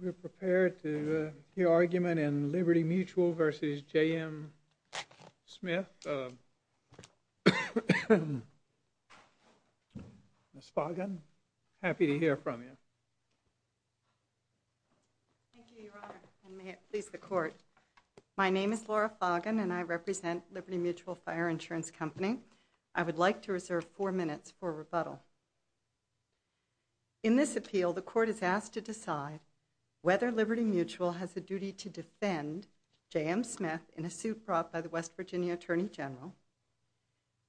We're prepared to hear argument in Liberty Mutual v. JM Smith. Ms. Foggin, happy to hear from you. Thank you, Your Honor, and may it please the Court. My name is Laura Foggin and I represent Liberty Mutual Fire Insurance Company. I would like to reserve four minutes for rebuttal. In this appeal, the Court is asked to decide whether Liberty Mutual has a duty to defend JM Smith in a suit brought by the West Virginia Attorney General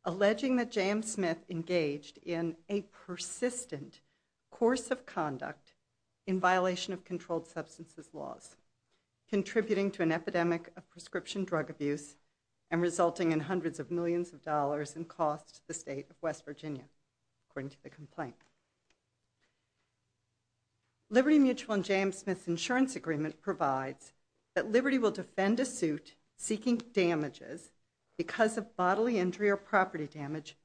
alleging that JM Smith engaged in a persistent course of conduct in violation of controlled substances laws, contributing to an epidemic of prescription drug abuse and resulting in hundreds of millions of dollars in costs to the state of West Virginia, according to the complaint. Liberty Mutual and JM Smith's insurance agreement provides that Liberty will defend a suit seeking damages because of bodily injury or property damage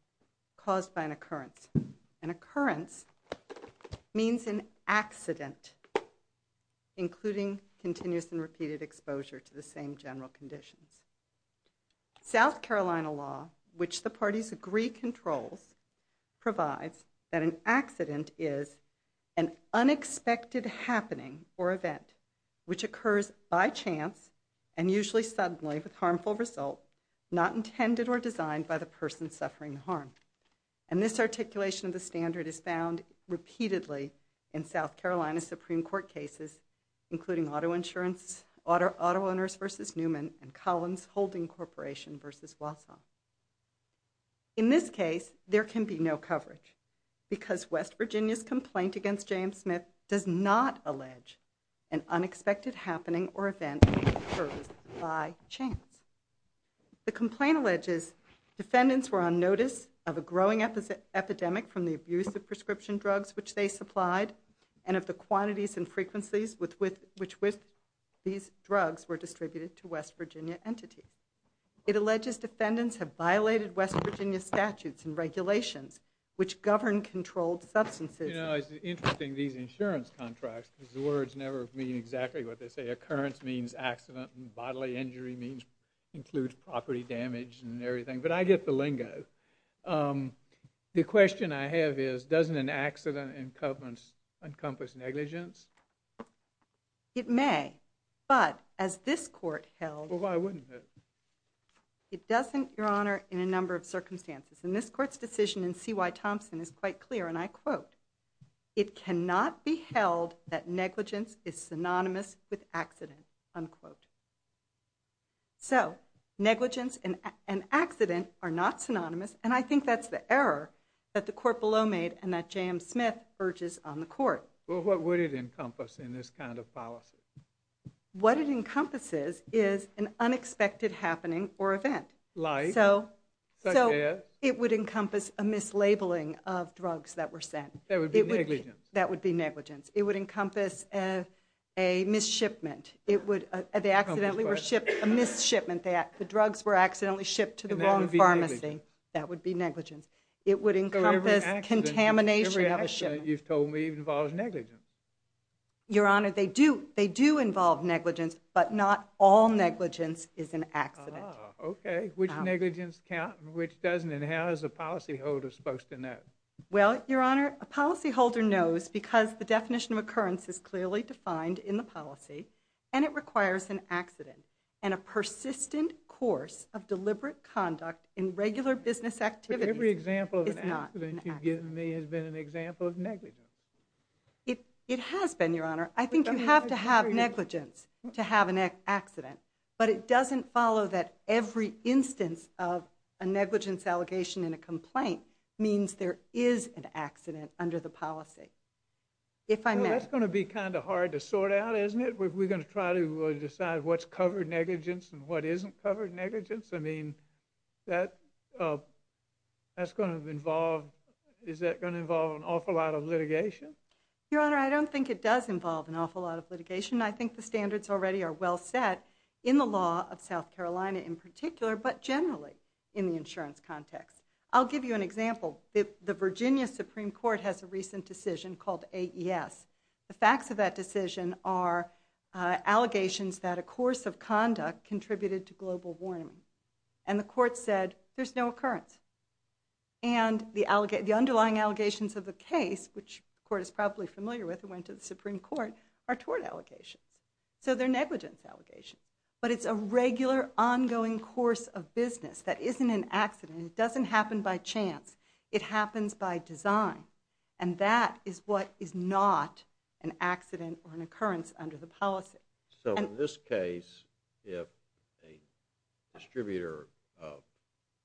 caused by an occurrence. An occurrence means an accident, including continuous and repeated exposure to the same general conditions. South Carolina law, which the parties agree controls, provides that an accident is an unexpected happening or event which occurs by chance and usually suddenly with harmful result not intended or designed by the person suffering the harm. And this articulation of the standard is found repeatedly in South Carolina Supreme Court cases, including Auto Owners v. Newman and Collins Holding Corporation v. Wausau. In this case, there can be no coverage because West Virginia's complaint against JM Smith does not allege an unexpected happening or event that occurs by chance. The complaint alleges defendants were on notice of a growing epidemic from the abuse of prescription drugs which they supplied and of the quantities and frequencies with which these drugs were distributed to West Virginia entities. It alleges defendants have violated West Virginia statutes and regulations which govern controlled substances. You know, it's interesting these insurance contracts because the words never mean exactly what they say. Occurrence means accident and bodily injury includes property damage and everything. But I get the lingo. The question I have is doesn't an accident encompass negligence? It may. But as this court held... Well, why wouldn't it? It doesn't, Your Honor, in a number of circumstances. And this court's decision in C.Y. Thompson is quite clear. And I quote, it cannot be held that negligence is synonymous with accident, unquote. So negligence and accident are not synonymous. And I think that's the error that the court below made and that JM Smith urges on the court. Well, what would it encompass in this kind of policy? What it encompasses is an unexpected happening or event. So it would encompass a mislabeling of drugs that were sent. That would be negligence. That would be negligence. It would encompass a misshipment. They accidentally were shipped, a misshipment. The drugs were accidentally shipped to the wrong pharmacy. That would be negligence. It would encompass contamination of a shipment. So every accident you've told me involves negligence. Your Honor, they do. They do involve negligence. But not all negligence is an accident. Okay. Which negligence counts and which doesn't? And how is a policyholder supposed to know? Well, Your Honor, a policyholder knows because the definition of occurrence is clearly defined in the policy. And it requires an accident. And a persistent course of deliberate conduct in regular business activities is not an accident. But every example of an accident you've given me has been an example of negligence. It has been, Your Honor. I think you have to have negligence to have an accident. But it doesn't follow that every instance of a negligence allegation in a complaint means there is an accident under the policy. If I may. Well, that's going to be kind of hard to sort out, isn't it? We're going to try to decide what's covered negligence and what isn't covered negligence. I mean, that's going to involve, is that going to involve an awful lot of litigation? Your Honor, I don't think it does involve an awful lot of litigation. I think the standards already are well set in the law of South Carolina in particular, but generally in the insurance context. I'll give you an example. The Virginia Supreme Court has a recent decision called AES. The facts of that decision are allegations that a course of conduct contributed to global warming. And the court said there's no occurrence. And the underlying allegations of the case, which the court is probably familiar with and went to the Supreme Court, are tort allegations. So they're negligence allegations. But it's a regular, ongoing course of business that isn't an accident. It doesn't happen by chance. It happens by design. And that is what is not an accident or an occurrence under the policy. So in this case, if a distributor of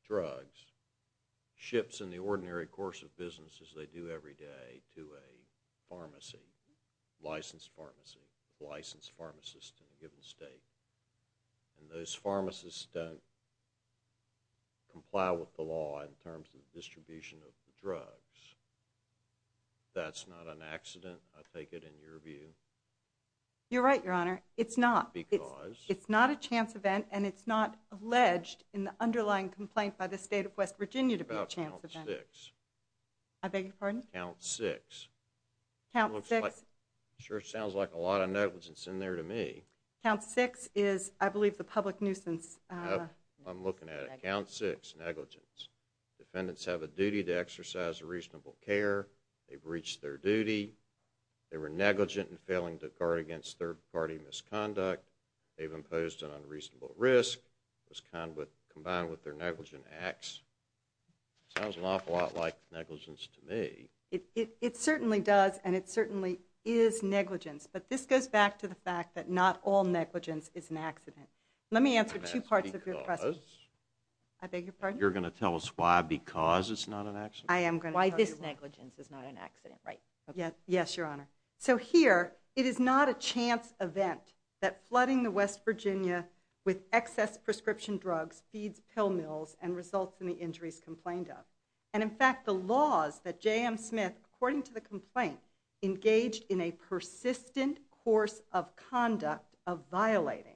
drugs ships in the ordinary course of business as they do every day to a pharmacy, licensed pharmacy, licensed pharmacist in a given state, and those pharmacists don't comply with the law in terms of distribution of the drugs, that's not an accident, I take it, in your view? You're right, Your Honor. It's not. Because? It's not a chance event. And it's not alleged in the underlying complaint by the state of West Virginia to be a chance event. Count six. I beg your pardon? Count six. Count six? Sure sounds like a lot of negligence in there to me. Count six is, I believe, the public nuisance. I'm looking at it. Count six, negligence. Defendants have a duty to exercise reasonable care. They've reached their duty. They were negligent in failing to guard against third-party misconduct. They've imposed an unreasonable risk. It was combined with their negligent acts. Sounds an awful lot like negligence to me. It certainly does, and it certainly is negligence. But this goes back to the fact that not all negligence is an accident. Let me answer two parts of your question. Because? I beg your pardon? You're going to tell us why because it's not an accident? I am going to tell you why this negligence is not an accident. Yes, Your Honor. So here, it is not a chance event that flooding the West Virginia with excess prescription drugs feeds pill mills and results in the injuries complained of. And, in fact, the laws that J.M. Smith, according to the complaint, engaged in a persistent course of conduct of violating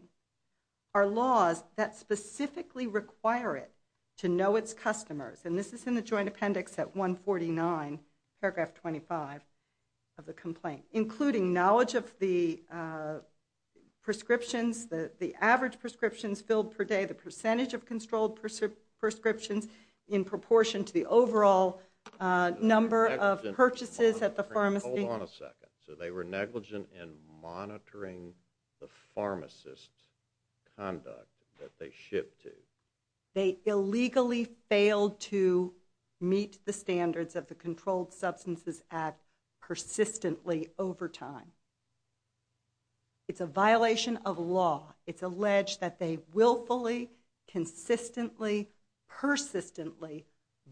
are laws that specifically require it to know its customers. And this is in the joint appendix at 149, paragraph 25 of the complaint. Including knowledge of the prescriptions, the average prescriptions filled per day, the percentage of controlled prescriptions in proportion to the overall number of purchases at the pharmacy. Hold on a second. So they were negligent in monitoring the pharmacist's conduct that they shipped to. They illegally failed to meet the standards of the Controlled Substances Act persistently over time. It's a violation of law. It's alleged that they willfully, consistently, persistently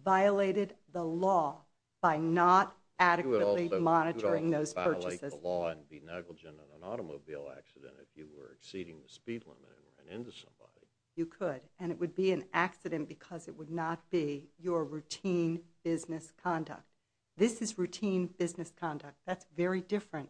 violated the law by not adequately monitoring those purchases. You could also violate the law and be negligent in an automobile accident if you were exceeding the speed limit and ran into somebody. You could. And it would be an accident because it would not be your routine business conduct. This is routine business conduct. That's very different.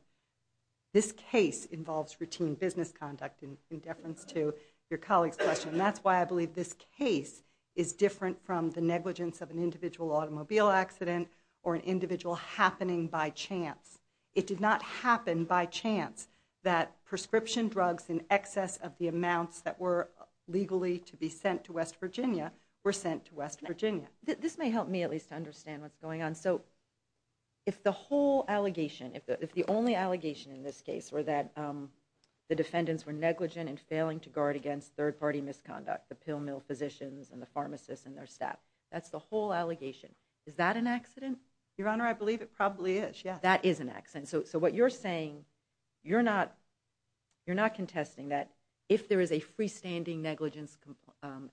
This case involves routine business conduct in deference to your colleague's question. And that's why I believe this case is different from the negligence of an individual automobile accident or an individual happening by chance. It did not happen by chance that prescription drugs in excess of the amounts that were legally to be sent to West Virginia were sent to West Virginia. This may help me at least to understand what's going on. So if the whole allegation, if the only allegation in this case were that the defendants were negligent in failing to guard against third-party misconduct, the pill mill physicians and the pharmacists and their staff, that's the whole allegation. Is that an accident? Your Honor, I believe it probably is, yes. That is an accident. So what you're saying, you're not contesting that if there is a freestanding negligence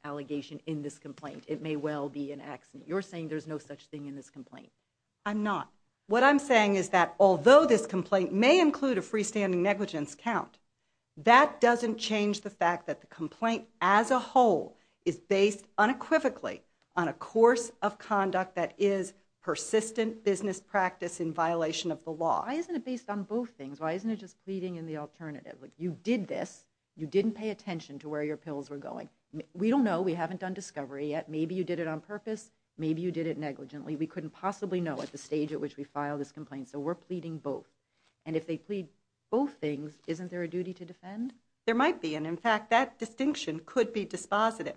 allegation in this complaint, it may well be an accident. You're saying there's no such thing in this complaint. I'm not. What I'm saying is that although this complaint may include a freestanding negligence count, that doesn't change the fact that the complaint as a whole is based unequivocally on a course of conduct that is persistent business practice in violation of the law. Why isn't it based on both things? Why isn't it just pleading in the alternative? You did this. You didn't pay attention to where your pills were going. We don't know. We haven't done discovery yet. Maybe you did it on purpose. Maybe you did it negligently. We couldn't possibly know at the stage at which we filed this complaint. So we're pleading both. And if they plead both things, isn't there a duty to defend? There might be. And in fact, that distinction could be dispositive.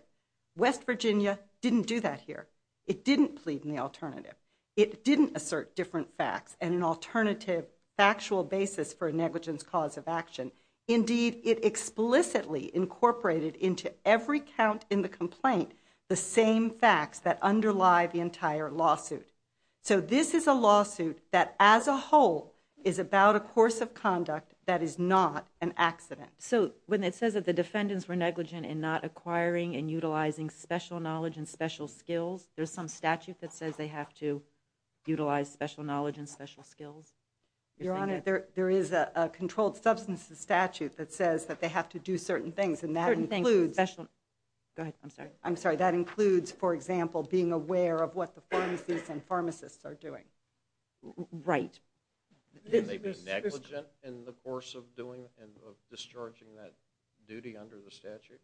West Virginia didn't do that here. It didn't plead in the alternative. It didn't assert different facts. And an alternative factual basis for a negligence cause of action. Indeed, it explicitly incorporated into every count in the complaint the same facts that underlie the entire lawsuit. So this is a lawsuit that as a whole is about a course of conduct that is not an accident. So when it says that the defendants were negligent in not acquiring and utilizing special knowledge and special skills, there's some statute that says they have to utilize special knowledge and special skills? Your Honor, there is a controlled substances statute that says that they have to do certain things. And that includes, for example, being aware of what the pharmacies and pharmacists are doing. Right. Can they be negligent in the course of doing and discharging that duty under the statute?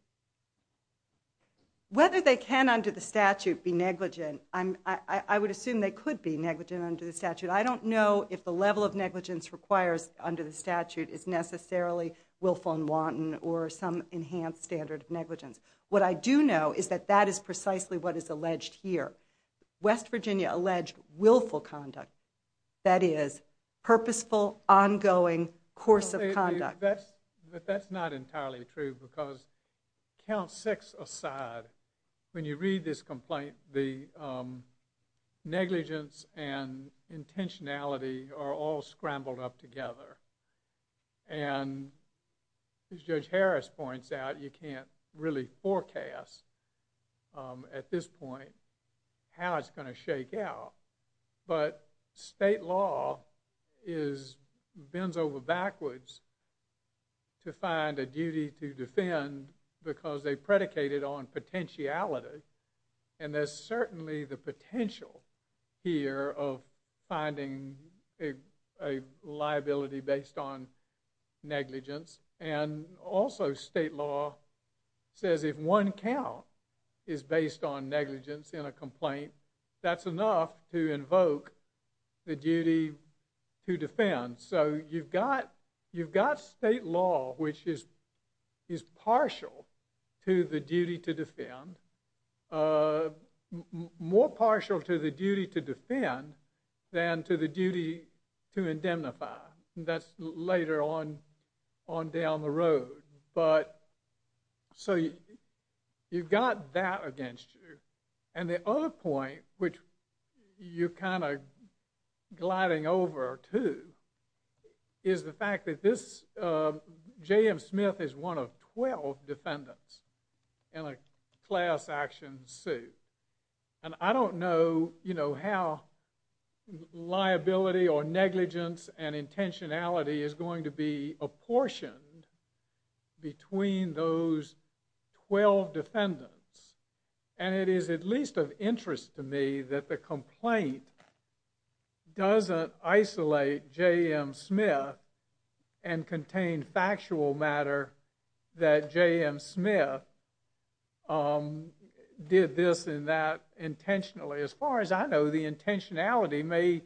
Whether they can under the statute be negligent, I would assume they could be negligent under the statute. I don't know if the level of negligence requires under the statute is necessarily willful and wanton or some enhanced standard of negligence. What I do know is that that is precisely what is alleged here. West Virginia alleged willful conduct. That is, purposeful, ongoing course of conduct. But that's not entirely true because count six aside, when you read this complaint, the negligence and intentionality are all scrambled up together. And as Judge Harris points out, you can't really forecast at this point how it's going to shake out. But state law bends over backwards to find a duty to defend because they predicated on potentiality. And there's certainly the potential here of finding a liability based on negligence. And also state law says if one count is based on negligence in a complaint, that's enough to invoke the duty to defend. So you've got state law, which is partial to the duty to defend, more partial to the duty to defend than to the duty to indemnify. That's later on down the road. But so you've got that against you. And the other point, which you're kind of gliding over to, is the fact that J.M. Smith is one of 12 defendants in a class action suit. And I don't know how liability or negligence and intentionality is going to be apportioned between those 12 defendants. And it is at least of interest to me that the complaint doesn't isolate J.M. Smith and contain factual matter that J.M. Smith did this and that intentionally. As far as I know, the intentionality may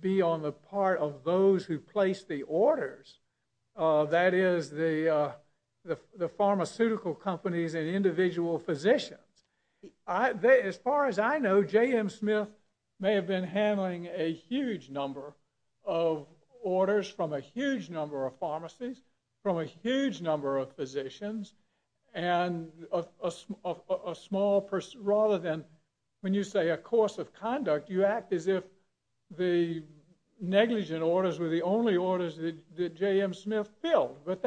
be on the part of those who placed the orders. That is, the pharmaceutical companies and individual physicians. As far as I know, J.M. Smith may have been handling a huge number of orders from a huge number of pharmacies, from a huge number of physicians, and rather than, when you say a course of conduct, you act as if the negligent orders were the only orders that J.M. Smith filled. But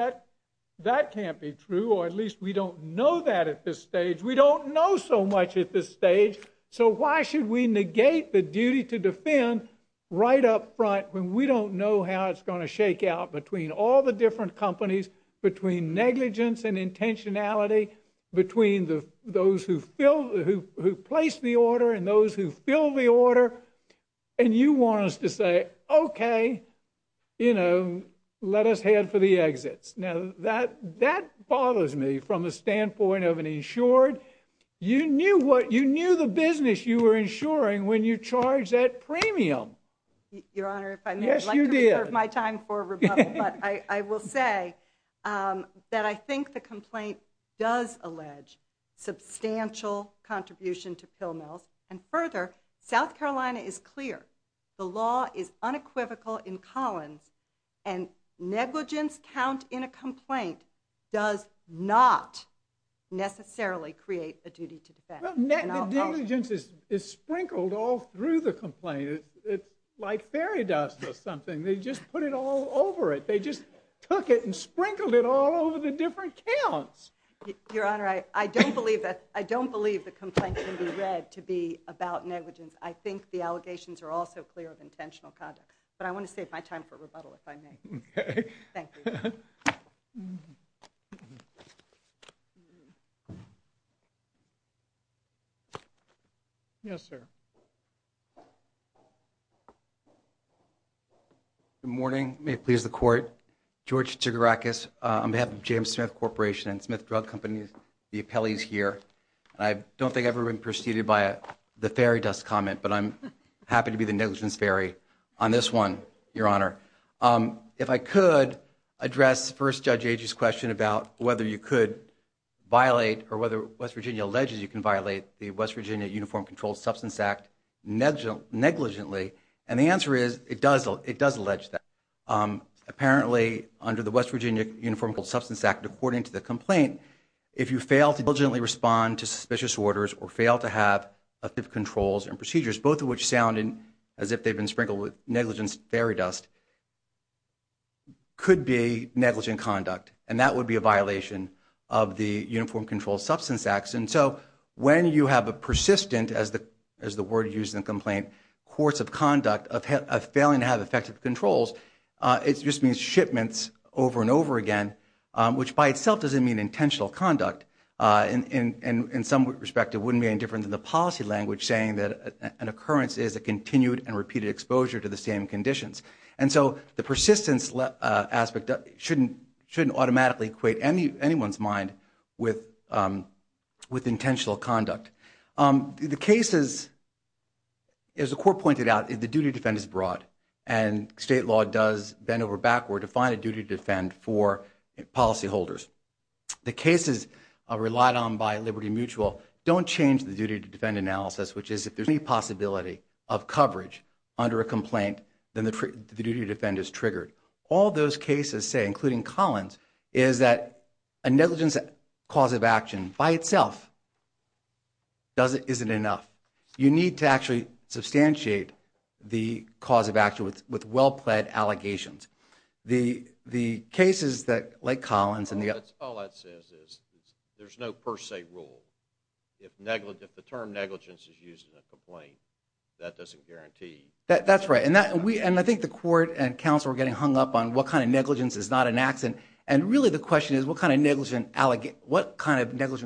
that can't be true, or at least we don't know that at this stage. We don't know so much at this stage. So why should we negate the duty to defend right up front when we don't know how it's going to shake out between all the different companies, between negligence and intentionality, between those who placed the order and those who filled the order, and you want us to say, okay, let us head for the exits. Now, that bothers me from the standpoint of an insured. You knew the business you were insuring when you charged that premium. Your Honor, if I may, I'd like to reserve my time for rebuttal, but I will say that I think the complaint does allege substantial contribution to pill mills, and further, South Carolina is clear. The law is unequivocal in Collins, and negligence count in a complaint does not necessarily create a duty to defend. The negligence is sprinkled all through the complaint. It's like fairy dust or something. They just put it all over it. They just took it and sprinkled it all over the different counts. Your Honor, I don't believe the complaint can be read to be about negligence. I think the allegations are also clear of intentional conduct, but I want to save my time for rebuttal, if I may. Thank you. Thank you. Yes, sir. Good morning. May it please the Court. George Tsigarakis on behalf of James Smith Corporation and Smith Drug Company. The appellee is here. I don't think I've ever been preceded by the fairy dust comment, but I'm happy to be the negligence fairy on this one, Your Honor. If I could address First Judge Agee's question about whether you could violate or whether West Virginia alleges you can violate the West Virginia Uniform Controlled Substance Act negligently. And the answer is it does allege that. Apparently under the West Virginia Uniform Controlled Substance Act, according to the complaint, if you fail to diligently respond to suspicious orders or fail to have effective controls and procedures, both of which sound as if they've been sprinkled with negligence fairy dust, could be negligent conduct, and that would be a violation of the Uniform Controlled Substance Act. And so when you have a persistent, as the word used in the complaint, course of conduct of failing to have effective controls, it just means shipments over and over again, which by itself doesn't mean intentional conduct. In some respect, it wouldn't be any different than the policy language saying that an occurrence is a continued and repeated exposure to the same conditions. And so the persistence aspect shouldn't automatically equate anyone's mind with intentional conduct. The cases, as the Court pointed out, the duty to defend is broad, and state law does bend over backward to find a duty to defend for policyholders. The cases relied on by Liberty Mutual don't change the duty to defend analysis, which is if there's any possibility of coverage under a complaint, then the duty to defend is triggered. All those cases say, including Collins, is that a negligence cause of action by itself isn't enough. You need to actually substantiate the cause of action with well-pled allegations. The cases like Collins and the others... All that says is there's no per se rule. If the term negligence is used in a complaint, that doesn't guarantee... That's right. And I think the Court and counsel are getting hung up on what kind of negligence is not an accident. And really the question is what kind of negligent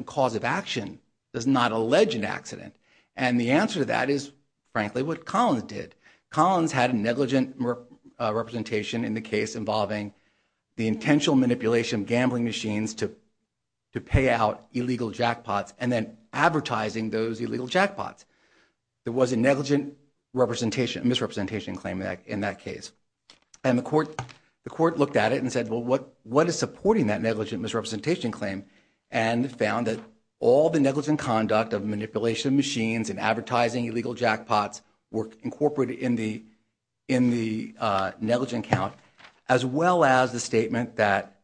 cause of action does not allege an accident? And the answer to that is, frankly, what Collins did. Collins had a negligent representation in the case involving the intentional manipulation of gambling machines to pay out illegal jackpots and then advertising those illegal jackpots. There was a negligent misrepresentation claim in that case. And the Court looked at it and said, well, what is supporting that negligent misrepresentation claim? And found that all the negligent conduct of manipulation of machines and advertising illegal jackpots were incorporated in the negligent count, as well as the statement that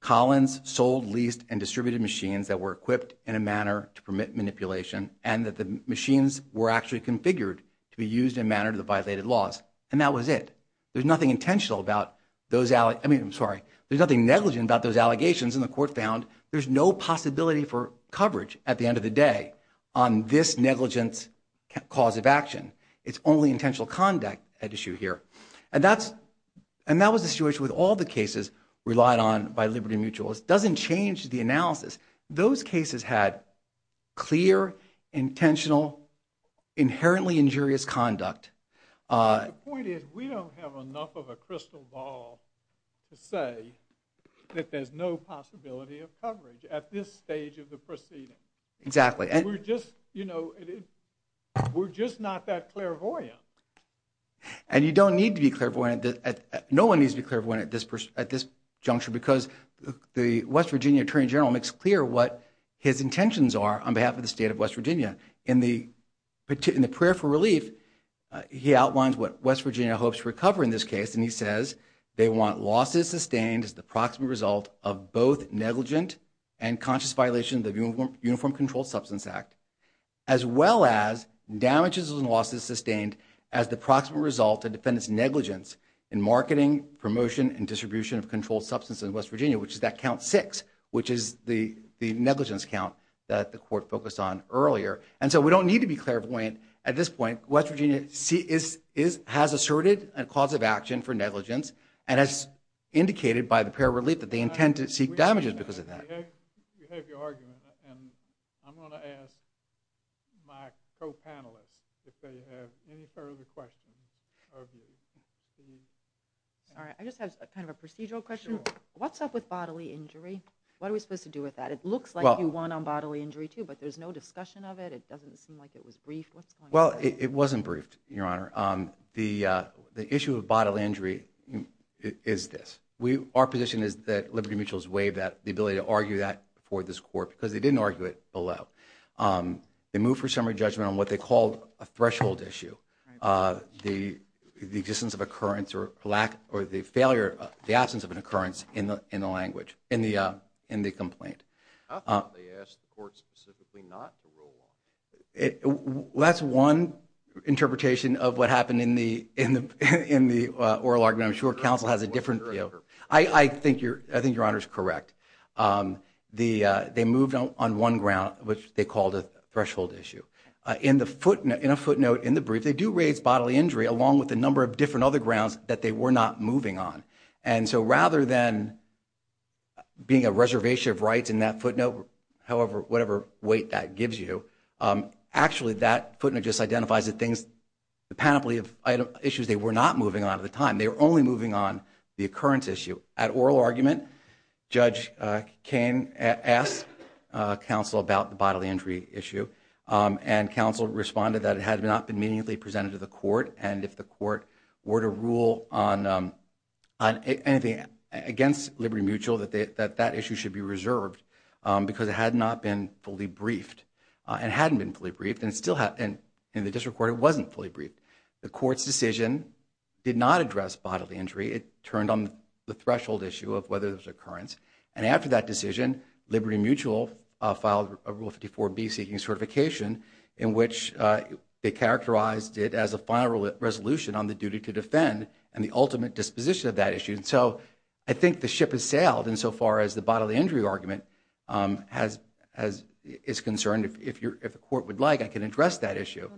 Collins sold, leased, and distributed machines that were equipped in a manner to permit manipulation and that the machines were actually configured to be used in a manner that violated laws. And that was it. There's nothing negligent about those allegations. And the Court found there's no possibility for coverage at the end of the day on this negligent cause of action. It's only intentional conduct at issue here. And that was the situation with all the cases relied on by Liberty Mutual. It doesn't change the analysis. Those cases had clear, intentional, inherently injurious conduct. The point is we don't have enough of a crystal ball to say that there's no possibility of coverage at this stage of the proceeding. Exactly. We're just, you know, we're just not that clairvoyant. And you don't need to be clairvoyant. No one needs to be clairvoyant at this juncture because the West Virginia Attorney General makes clear what his intentions are on behalf of the state of West Virginia. In the prayer for relief, he outlines what West Virginia hopes to recover in this case, and he says they want losses sustained as the proximate result of both negligent and conscious violation of the Uniform Controlled Substance Act, as well as damages and losses sustained as the proximate result of defendant's negligence in marketing, promotion, and distribution of controlled substances in West Virginia, which is that count six, which is the negligence count that the Court focused on earlier. And so we don't need to be clairvoyant at this point. West Virginia has asserted a cause of action for negligence and has indicated by the prayer of relief that they intend to seek damages because of that. You have your argument, and I'm going to ask my co-panelists if they have any further questions of you. Sorry, I just have kind of a procedural question. What's up with bodily injury? What are we supposed to do with that? It looks like you won on bodily injury too, but there's no discussion of it. It doesn't seem like it was briefed. Well, it wasn't briefed, Your Honor. The issue of bodily injury is this. Our position is that Liberty Mutual's waived the ability to argue that before this Court because they didn't argue it below. They moved for summary judgment on what they called a threshold issue, the existence of occurrence or the absence of an occurrence in the complaint. I thought they asked the Court specifically not to rule on it. That's one interpretation of what happened in the oral argument. I'm sure counsel has a different view. I think Your Honor's correct. They moved on one ground, which they called a threshold issue. In a footnote in the brief, they do raise bodily injury along with a number of different other grounds that they were not moving on. So rather than being a reservation of rights in that footnote, however, whatever weight that gives you, actually that footnote just identifies the panoply of issues they were not moving on at the time. They were only moving on the occurrence issue. At oral argument, Judge Koehn asked counsel about the bodily injury issue, and counsel responded that it had not been immediately presented to the Court, and if the Court were to rule on anything against Liberty Mutual, that issue should be reserved because it had not been fully briefed. It hadn't been fully briefed, and in the District Court it wasn't fully briefed. The Court's decision did not address bodily injury. It turned on the threshold issue of whether there was occurrence. After that decision, Liberty Mutual filed a Rule 54B seeking certification in which they characterized it as a final resolution on the duty to defend and the ultimate disposition of that issue. So I think the ship has sailed insofar as the bodily injury argument is concerned. If the Court would like, I can address that issue.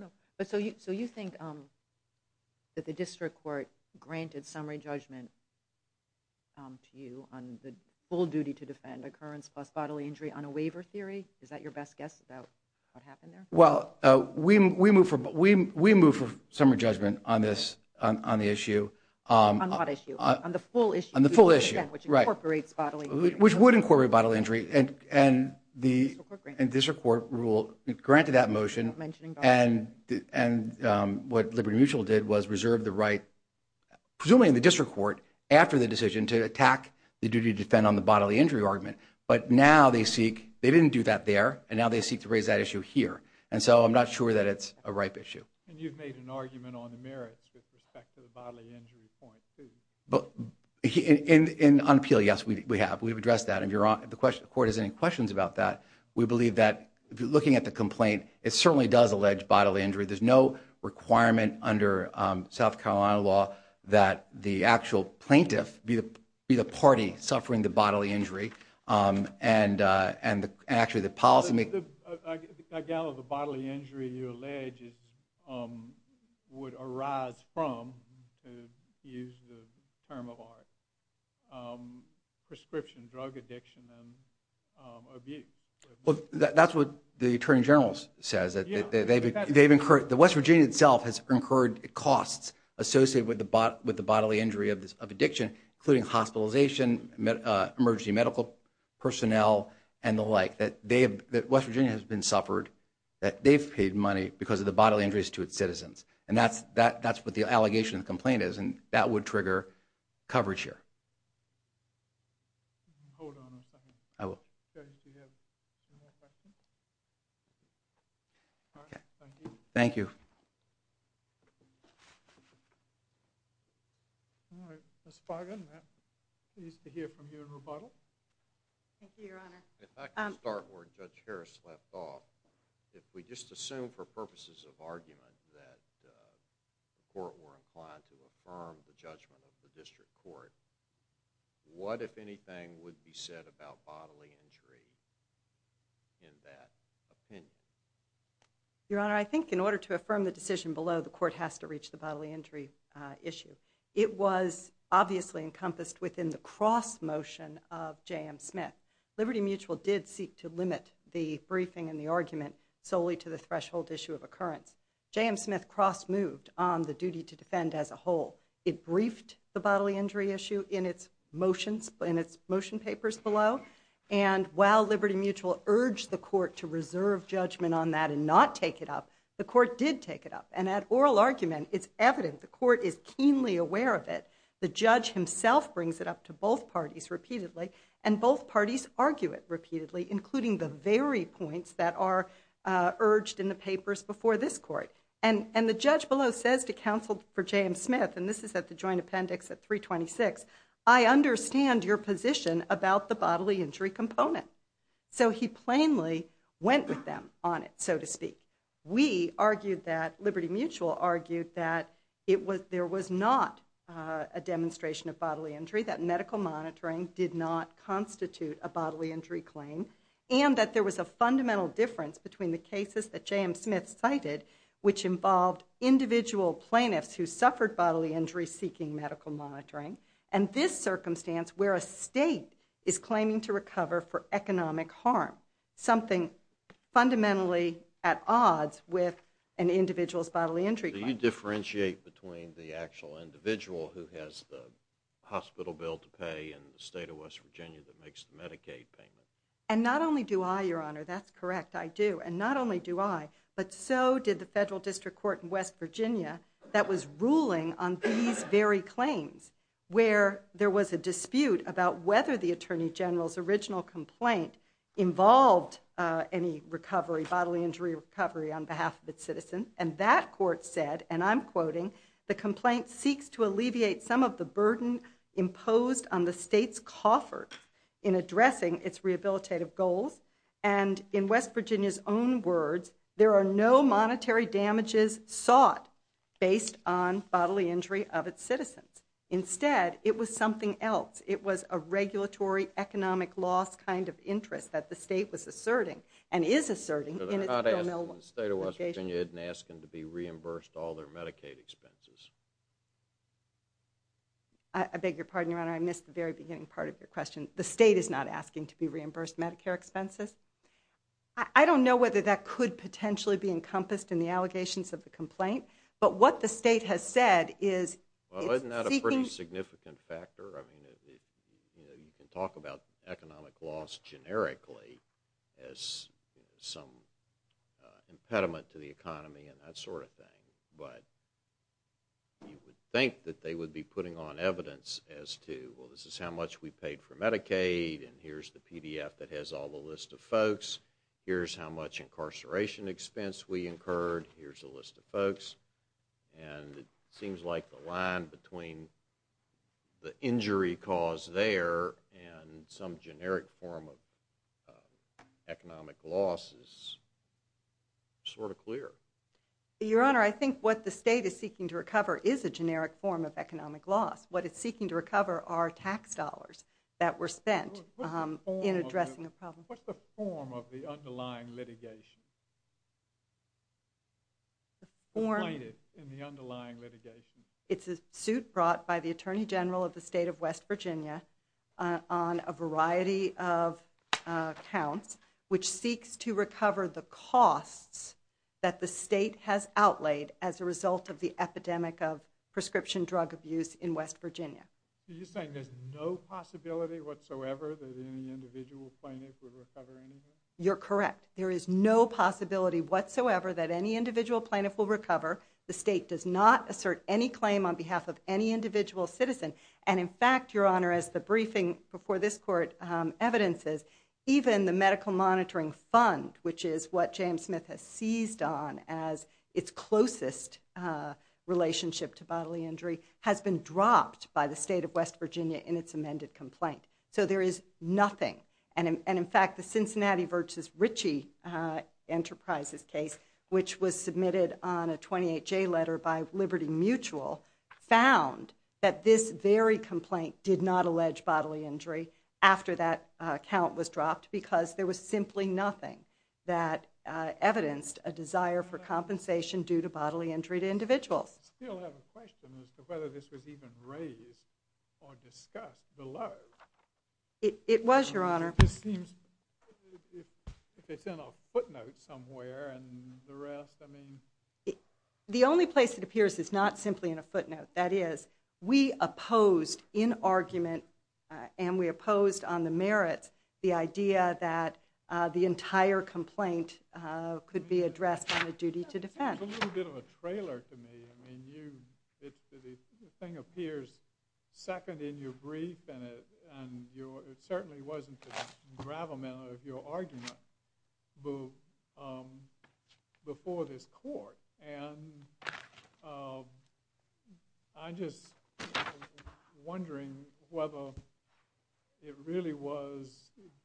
So you think that the District Court granted summary judgment to you on the full duty to defend, occurrence plus bodily injury, on a waiver theory? Is that your best guess about what happened there? Well, we moved for summary judgment on the issue. On what issue? On the full issue? On the full issue. Which incorporates bodily injury. Which would incorporate bodily injury, and the District Court granted that motion. And what Liberty Mutual did was reserve the right, presumably in the District Court, after the decision to attack the duty to defend on the bodily injury argument. But now they seek, they didn't do that there, and now they seek to raise that issue here. And so I'm not sure that it's a ripe issue. And you've made an argument on the merits with respect to the bodily injury point, too. On appeal, yes, we have. We've addressed that. If the Court has any questions about that, we believe that, looking at the complaint, it certainly does allege bodily injury. There's no requirement under South Carolina law that the actual plaintiff be the party suffering the bodily injury, and actually the policymaker— I gather the bodily injury you allege would arise from, to use the term of art, prescription drug addiction and abuse. Well, that's what the Attorney General says. The West Virginia itself has incurred costs associated with the bodily injury of addiction, including hospitalization, emergency medical personnel, and the like. West Virginia has been suffered. They've paid money because of the bodily injuries to its citizens. And that's what the allegation of the complaint is, and that would trigger coverage here. Hold on a second. I will. Thank you. Ms. Fargan, pleased to hear from you in rebuttal. Thank you, Your Honor. If I could start where Judge Harris left off. If we just assume for purposes of argument that the Court were inclined to affirm the judgment of the District Court, what, if anything, would be said about bodily injury in that opinion? Your Honor, I think in order to affirm the decision below, the Court has to reach the bodily injury issue. It was obviously encompassed within the cross-motion of J.M. Smith. Liberty Mutual did seek to limit the briefing and the argument solely to the threshold issue of occurrence. J.M. Smith cross-moved on the duty to defend as a whole. It briefed the bodily injury issue in its motion papers below. And while Liberty Mutual urged the Court to reserve judgment on that and not take it up, the Court did take it up. And that oral argument is evident. The Court is keenly aware of it. The judge himself brings it up to both parties repeatedly. And both parties argue it repeatedly, including the very points that are urged in the papers before this Court. And the judge below says to counsel for J.M. Smith, and this is at the joint appendix at 326, I understand your position about the bodily injury component. So he plainly went with them on it, so to speak. We argued that, Liberty Mutual argued that there was not a demonstration of bodily injury, that medical monitoring did not constitute a bodily injury claim, and that there was a fundamental difference between the cases that J.M. Smith cited, which involved individual plaintiffs who suffered bodily injury seeking medical monitoring, and this circumstance where a state is claiming to recover for economic harm. Something fundamentally at odds with an individual's bodily injury claim. Do you differentiate between the actual individual who has the hospital bill to pay and the state of West Virginia that makes the Medicaid payment? And not only do I, Your Honor, that's correct, I do. And not only do I, but so did the Federal District Court in West Virginia that was ruling on these very claims, where there was a dispute about whether the Attorney General's original complaint involved any recovery, bodily injury recovery, on behalf of its citizens. And that court said, and I'm quoting, the complaint seeks to alleviate some of the burden imposed on the state's coffers in addressing its rehabilitative goals, and in West Virginia's own words, there are no monetary damages sought based on bodily injury of its citizens. Instead, it was something else. It was a regulatory economic loss kind of interest that the state was asserting, and is asserting, in its bill. But they're not asking the state of West Virginia, they didn't ask them to be reimbursed all their Medicaid expenses. I beg your pardon, Your Honor, I missed the very beginning part of your question. The state is not asking to be reimbursed Medicare expenses? I don't know whether that could potentially be encompassed in the allegations of the complaint, but what the state has said is... Well, isn't that a pretty significant factor? I mean, you can talk about economic loss generically as some impediment to the economy and that sort of thing, but you would think that they would be putting on evidence as to, well, this is how much we paid for Medicaid, and here's the PDF that has all the list of folks, here's how much incarceration expense we incurred, here's the list of folks, and it seems like the line between the injury cause there and some generic form of economic loss is sort of clear. Your Honor, I think what the state is seeking to recover is a generic form of economic loss. What it's seeking to recover are tax dollars that were spent in addressing a problem. What's the form of the underlying litigation? The plaintiff in the underlying litigation. It's a suit brought by the Attorney General of the state of West Virginia on a variety of accounts, which seeks to recover the costs that the state has outlaid as a result of the epidemic of prescription drug abuse in West Virginia. Are you saying there's no possibility whatsoever that any individual plaintiff would recover anything? You're correct. There is no possibility whatsoever that any individual plaintiff will recover. The state does not assert any claim on behalf of any individual citizen, and in fact, Your Honor, as the briefing before this Court evidences, even the Medical Monitoring Fund, which is what James Smith has seized on as its closest relationship to bodily injury, has been dropped by the state of West Virginia in its amended complaint. So there is nothing, and in fact, the Cincinnati v. Ritchie Enterprises case, which was submitted on a 28-J letter by Liberty Mutual, found that this very complaint did not allege bodily injury after that account was dropped because there was simply nothing that evidenced a claim. I still have a question as to whether this was even raised or discussed below. It was, Your Honor. Excuse me. If it's in a footnote somewhere and the rest, I mean? The only place it appears is not simply in a footnote. That is, we opposed in argument, and we opposed on the merits, the idea that the entire complaint could be addressed on a duty to defense. There's a little bit of a trailer to me. I mean, the thing appears second in your brief, and it certainly wasn't the gravamen of your argument before this Court. And I'm just wondering whether it really was,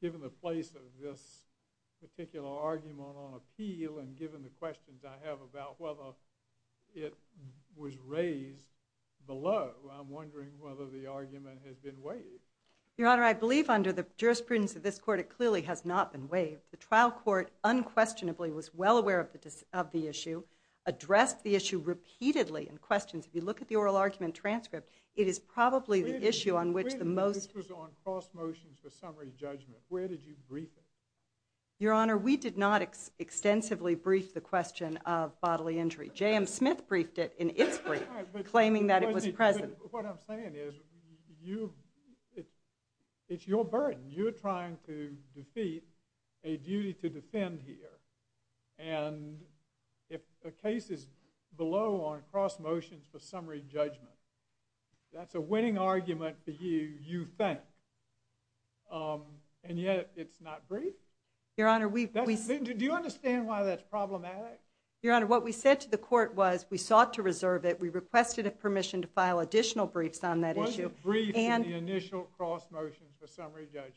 given the place of this particular argument on appeal and given the questions I have about whether it was raised below, I'm wondering whether the argument has been waived. Your Honor, I believe under the jurisprudence of this Court, it clearly has not been waived. The trial court unquestionably was well aware of the issue, addressed the issue repeatedly in questions. If you look at the oral argument transcript, it is probably the issue on which the most Wait a minute. This was on cross motions for summary judgment. Where did you brief it? Your Honor, we did not extensively brief the question of bodily injury. J.M. Smith briefed it in its brief, claiming that it was present. What I'm saying is, it's your burden. You're trying to defeat a duty to defend here. And if the case is below on cross motions for summary judgment, that's a winning argument for you, you think. And yet, it's not briefed? Your Honor, we Do you understand why that's problematic? Your Honor, what we said to the court was, we sought to reserve it. We requested permission to file additional briefs on that issue. It wasn't briefed in the initial cross motions for summary judgment.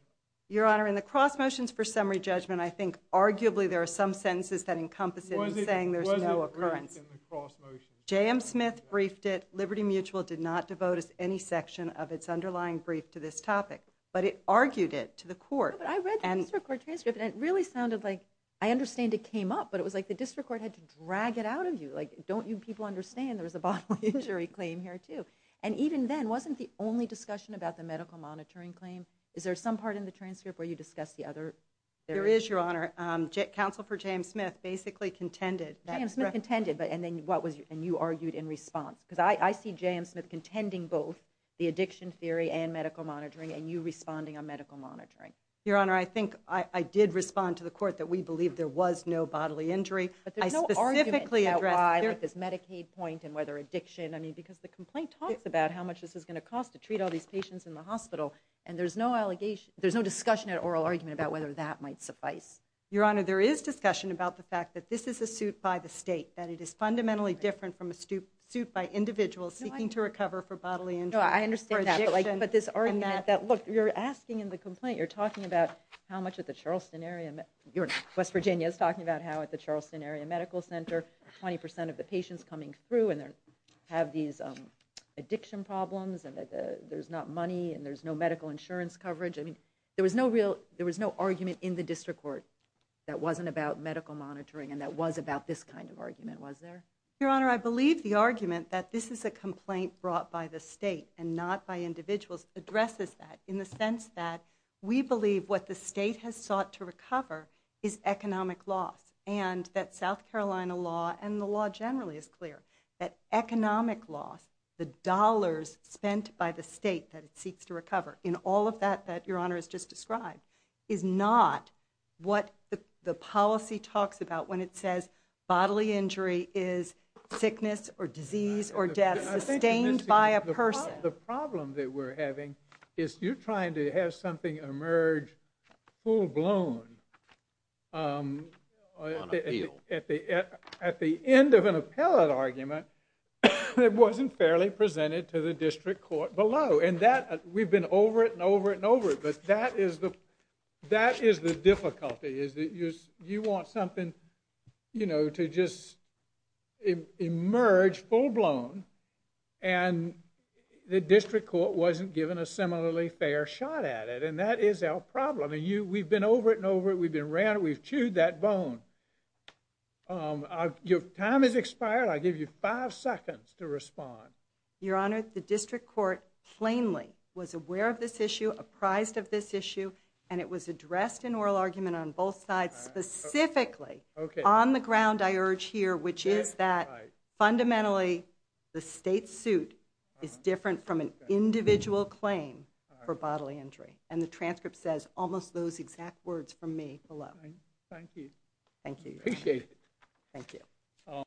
Your Honor, in the cross motions for summary judgment, I think arguably there are some sentences that encompass it in saying there's no occurrence. It wasn't briefed in the cross motions. J.M. Smith briefed it. Liberty Mutual did not devote us any section of its underlying brief to this topic. But it argued it to the court. But I read the district court transcript, and it really sounded like, I understand it came up, but it was like the district court had to drag it out of you. Like, don't you people understand there was a bodily injury claim here, too? And even then, wasn't the only discussion about the medical monitoring claim? Is there some part in the transcript where you discussed the other? There is, Your Honor. Counsel for J.M. Smith basically contended. J.M. Smith contended, and you argued in response. Because I see J.M. Smith contending both the addiction theory and medical monitoring, and you responding on medical monitoring. Your Honor, I think I did respond to the court that we believe there was no bodily injury. But there's no argument about why, like this Medicaid point and whether addiction, I mean, because the complaint talks about how much this is going to cost to treat all these patients in the hospital, and there's no discussion or oral argument about whether that might suffice. Your Honor, there is discussion about the fact that this is a suit by the state, that it is fundamentally different from a suit by individuals seeking to recover for bodily injury. No, I understand that. But this argument that, look, you're asking in the complaint, you're talking about how much at the Charleston area, West Virginia is talking about how at the Charleston area medical center, 20% of the patients coming through have these addiction problems, and there's not money, and there's no medical insurance coverage. I mean, there was no argument in the district court that wasn't about medical monitoring and that was about this kind of argument, was there? Your Honor, I believe the argument that this is a complaint brought by the state and not by individuals addresses that in the sense that we believe what the state has sought to recover is economic loss and that South Carolina law and the law generally is clear that economic loss, the dollars spent by the state that it seeks to recover in all of that that Your Honor has just described, is not what the policy talks about when it says bodily injury is sickness or disease or death sustained by a person. The problem that we're having is you're trying to have something emerge full-blown. On appeal. At the end of an appellate argument, it wasn't fairly presented to the district court below. And that, we've been over it and over it and over it, but that is the difficulty, is that you want something to just emerge full-blown, and the district court wasn't given a similarly fair shot at it. And that is our problem. We've been over it and over it. We've been around it. We've chewed that bone. Your time has expired. I'll give you five seconds to respond. Your Honor, the district court plainly was aware of this issue, apprised of this issue, and it was addressed in oral argument on both sides specifically on the ground I urge here, which is that fundamentally the state suit is different from an individual claim for bodily injury. And the transcript says almost those exact words from me below. Thank you. Thank you. Appreciate it. Thank you.